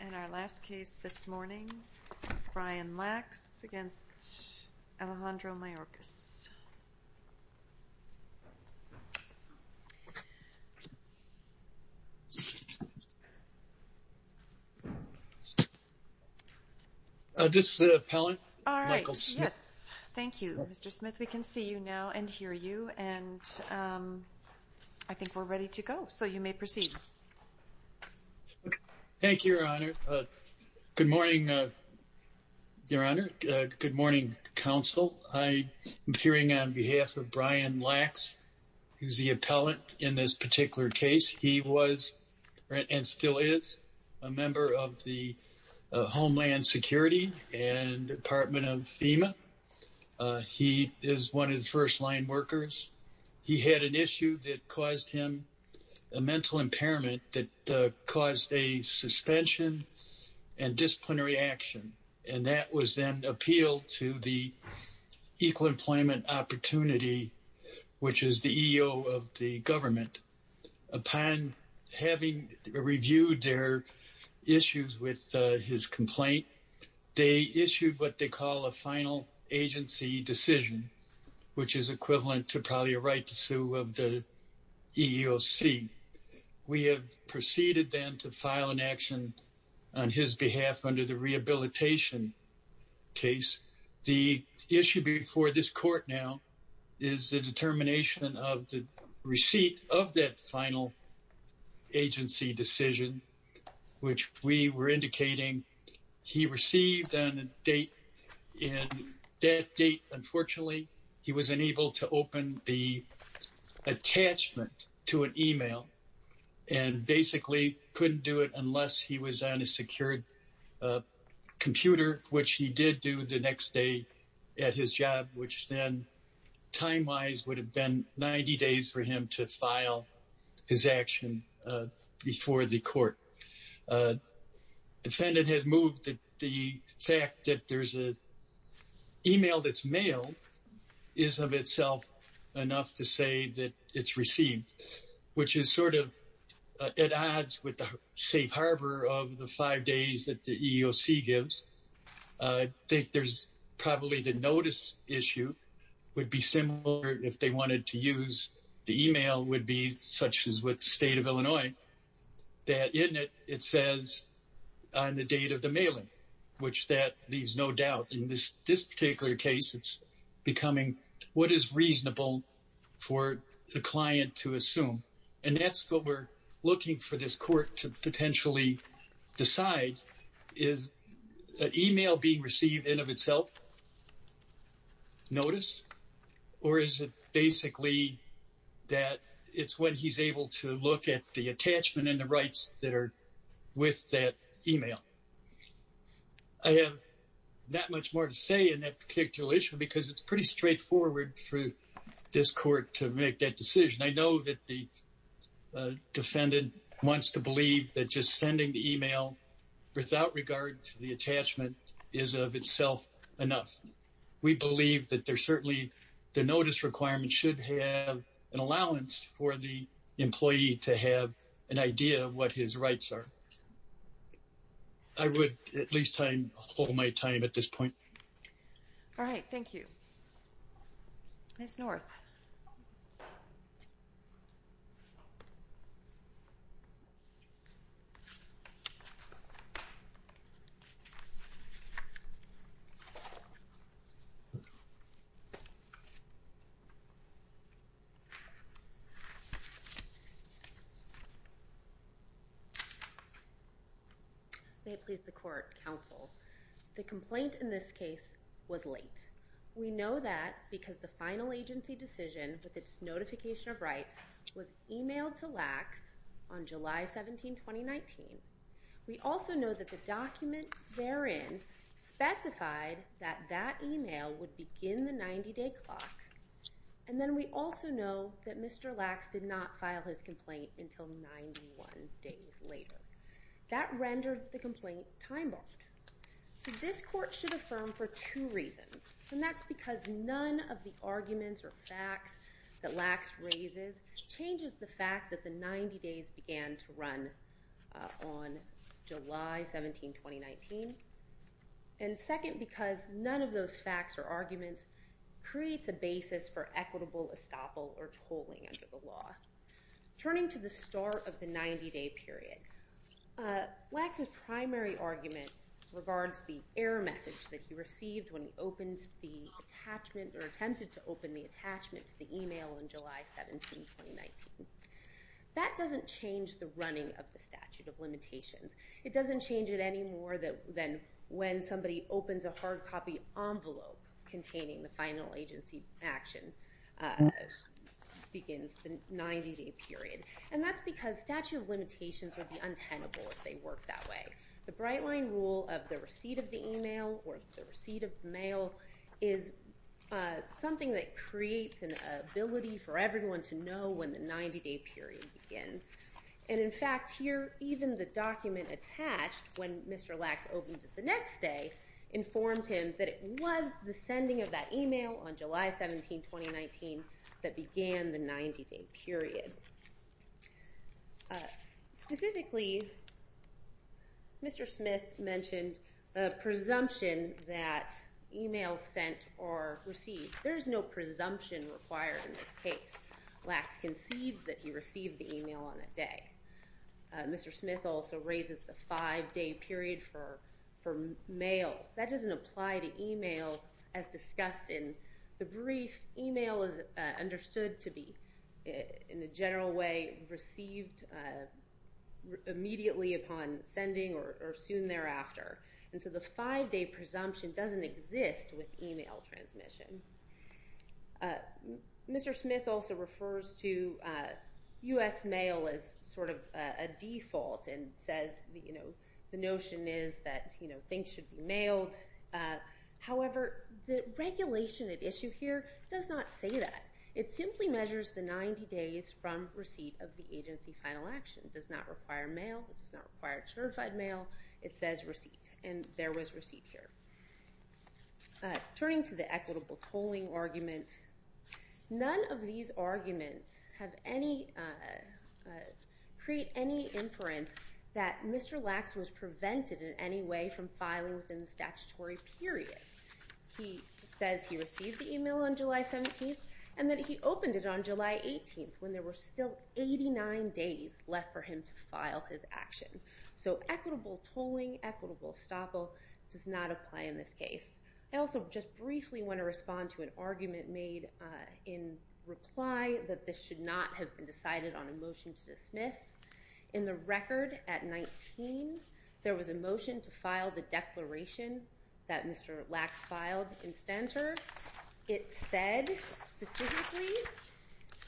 And our last case this morning is Brian Lax against Alejandro Mayorkas. This is the appellant, Michael Smith. All right, yes. Thank you, Mr. Smith. We can see you now and hear you. And I think we're ready to go, so you may proceed. Thank you, Your Honor. Good morning, Your Honor. Good morning, Counsel. I am appearing on behalf of Brian Lax, who is the appellant in this particular case. He was and still is a member of the Homeland Security and Department of FEMA. He is one of the first-line workers. He had an issue that caused him a mental impairment that caused a suspension and disciplinary action, and that was then appealed to the Equal Employment Opportunity, which is the EEO of the government. Upon having reviewed their issues with his complaint, they issued what they call a final agency decision, which is equivalent to probably a right to sue of the EEOC. We have proceeded then to file an action on his behalf under the rehabilitation case. The issue before this court now is the determination of the receipt of that final agency decision, which we were indicating he received on a date. And that date, unfortunately, he was unable to open the attachment to an e-mail and basically couldn't do it unless he was on a secured computer, which he did do the next day at his job, which then time-wise would have been 90 days for him to file his action before the court. The defendant has moved the fact that there's an e-mail that's mailed is of itself enough to say that it's received, which is sort of at odds with the safe harbor of the five days that the EEOC gives. I think there's probably the notice issue would be similar if they wanted to use the e-mail would be, such as with the state of Illinois, that in it, it says on the date of the mailing, which that leaves no doubt. In this particular case, it's becoming what is reasonable for the client to assume. And that's what we're looking for this court to potentially decide. Is an e-mail being received in of itself notice? Or is it basically that it's when he's able to look at the attachment and the rights that are with that e-mail? I have not much more to say in that particular issue because it's pretty straightforward for this court to make that decision. I know that the defendant wants to believe that just sending the e-mail without regard to the attachment is of itself enough. We believe that there's certainly the notice requirement should have an allowance for the employee to have an idea of what his rights are. I would at least hold my time at this point. All right. Thank you. Ms. North. May it please the court, counsel. The complaint in this case was late. We know that because the final agency decision with its notification of rights was e-mailed to Lacks on July 17, 2019. We also know that the document therein specified that that e-mail would begin the 90-day clock. And then we also know that Mr. Lacks did not file his complaint until 91 days later. That rendered the complaint time-barred. So this court should affirm for two reasons. And that's because none of the arguments or facts that Lacks raises changes the fact that the 90 days began to run on July 17, 2019. And second, because none of those facts or arguments creates a basis for equitable estoppel or tolling under the law. Turning to the start of the 90-day period, Lacks' primary argument regards the error message that he received when he opened the attachment or attempted to open the attachment to the e-mail on July 17, 2019. That doesn't change the running of the statute of limitations. It doesn't change it any more than when somebody opens a hard copy envelope containing the final agency action begins the 90-day period. And that's because statute of limitations would be untenable if they worked that way. The bright-line rule of the receipt of the e-mail or the receipt of mail is something that creates an ability for everyone to know when the 90-day period begins. And, in fact, here even the document attached when Mr. Lacks opened it the next day informed him that it was the sending of that e-mail on July 17, 2019 that began the 90-day period. Specifically, Mr. Smith mentioned a presumption that e-mails sent or received, there's no presumption required in this case. Lacks concedes that he received the e-mail on that day. Mr. Smith also raises the five-day period for mail. That doesn't apply to e-mail as discussed in the brief. E-mail is understood to be, in a general way, received immediately upon sending or soon thereafter. And so the five-day presumption doesn't exist with e-mail transmission. Mr. Smith also refers to U.S. mail as sort of a default and says the notion is that things should be mailed. However, the regulation at issue here does not say that. It simply measures the 90 days from receipt of the agency final action. It does not require mail. It does not require certified mail. It says receipt, and there was receipt here. Turning to the equitable tolling argument, none of these arguments create any inference that Mr. Lacks was prevented in any way from filing within the statutory period. He says he received the e-mail on July 17, and that he opened it on July 18, when there were still 89 days left for him to file his action. So equitable tolling, equitable estoppel does not apply in this case. I also just briefly want to respond to an argument made in reply that this should not have been decided on a motion to dismiss. In the record at 19, there was a motion to file the declaration that Mr. Lacks filed in Stenter. It said specifically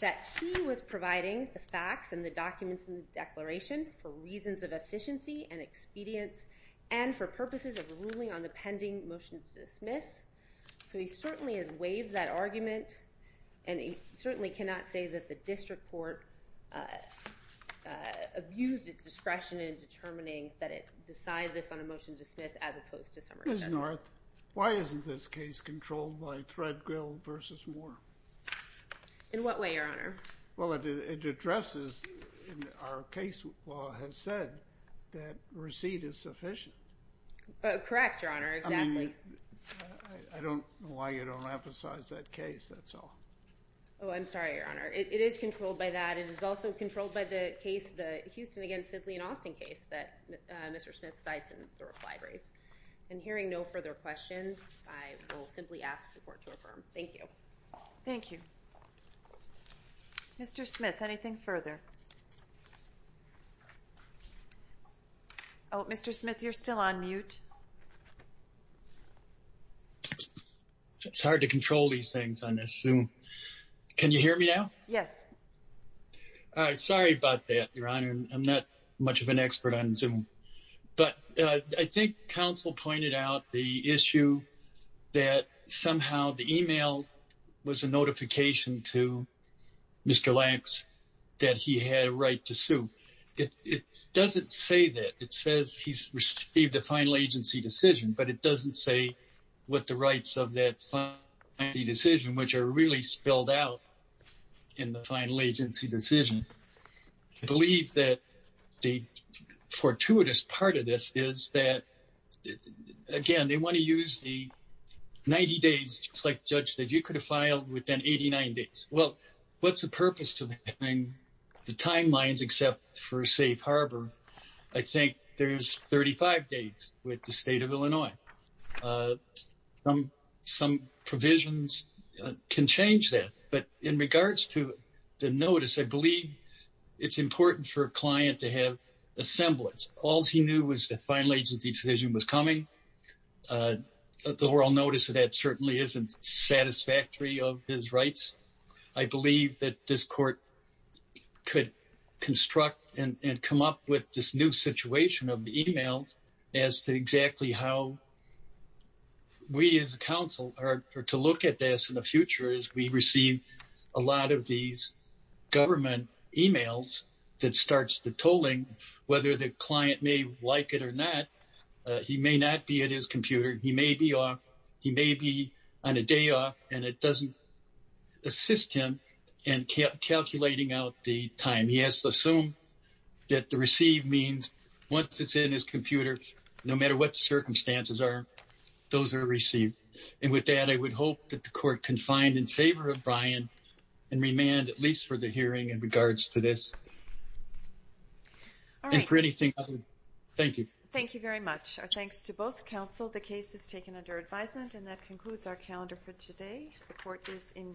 that he was providing the facts and the documents in the declaration for reasons of efficiency and expedience and for purposes of ruling on the pending motion to dismiss. So he certainly has waived that argument, and he certainly cannot say that the district court abused its discretion in determining that it decide this on a motion to dismiss as opposed to summary judgment. Judge North, why isn't this case controlled by Threadgill v. Moore? In what way, Your Honor? Well, it addresses our case law has said that receipt is sufficient. Correct, Your Honor, exactly. I don't know why you don't emphasize that case, that's all. Oh, I'm sorry, Your Honor. It is controlled by that. It is also controlled by the case, the Houston against Sidley and Austin case that Mr. Smith cites in the reply brief. In hearing no further questions, I will simply ask the court to affirm. Thank you. Thank you. Mr. Smith, anything further? Oh, Mr. Smith, you're still on mute. It's hard to control these things on this Zoom. Can you hear me now? Yes. Sorry about that, Your Honor. I'm not much of an expert on Zoom. But I think counsel pointed out the issue that somehow the e-mail was a notification to Mr. Lanks that he had a right to sue. It doesn't say that. It says he's received a final agency decision, but it doesn't say what the rights of that final agency decision, which are really spelled out in the final agency decision. I believe that the fortuitous part of this is that, again, they want to use the 90 days just like the judge said. You could have filed within 89 days. Well, what's the purpose of having the timelines except for safe harbor? I think there's 35 days with the state of Illinois. Some provisions can change that. But in regards to the notice, I believe it's important for a client to have a semblance. All he knew was the final agency decision was coming. The oral notice of that certainly isn't satisfactory of his rights. I believe that this court could construct and come up with this new situation of the e-mails as to exactly how we as a counsel are to look at this in the future as we receive a lot of these government e-mails that starts the tolling. Whether the client may like it or not, he may not be at his computer. He may be off. He may be on a day off, and it doesn't assist him in calculating out the time. He has to assume that the receive means once it's in his computer, no matter what the circumstances are, those are received. And with that, I would hope that the court can find in favor of Brian and remand at least for the hearing in regards to this. All right. And for anything other, thank you. Thank you very much. Our thanks to both counsel. The case is taken under advisement, and that concludes our calendar for today. The court is in recess.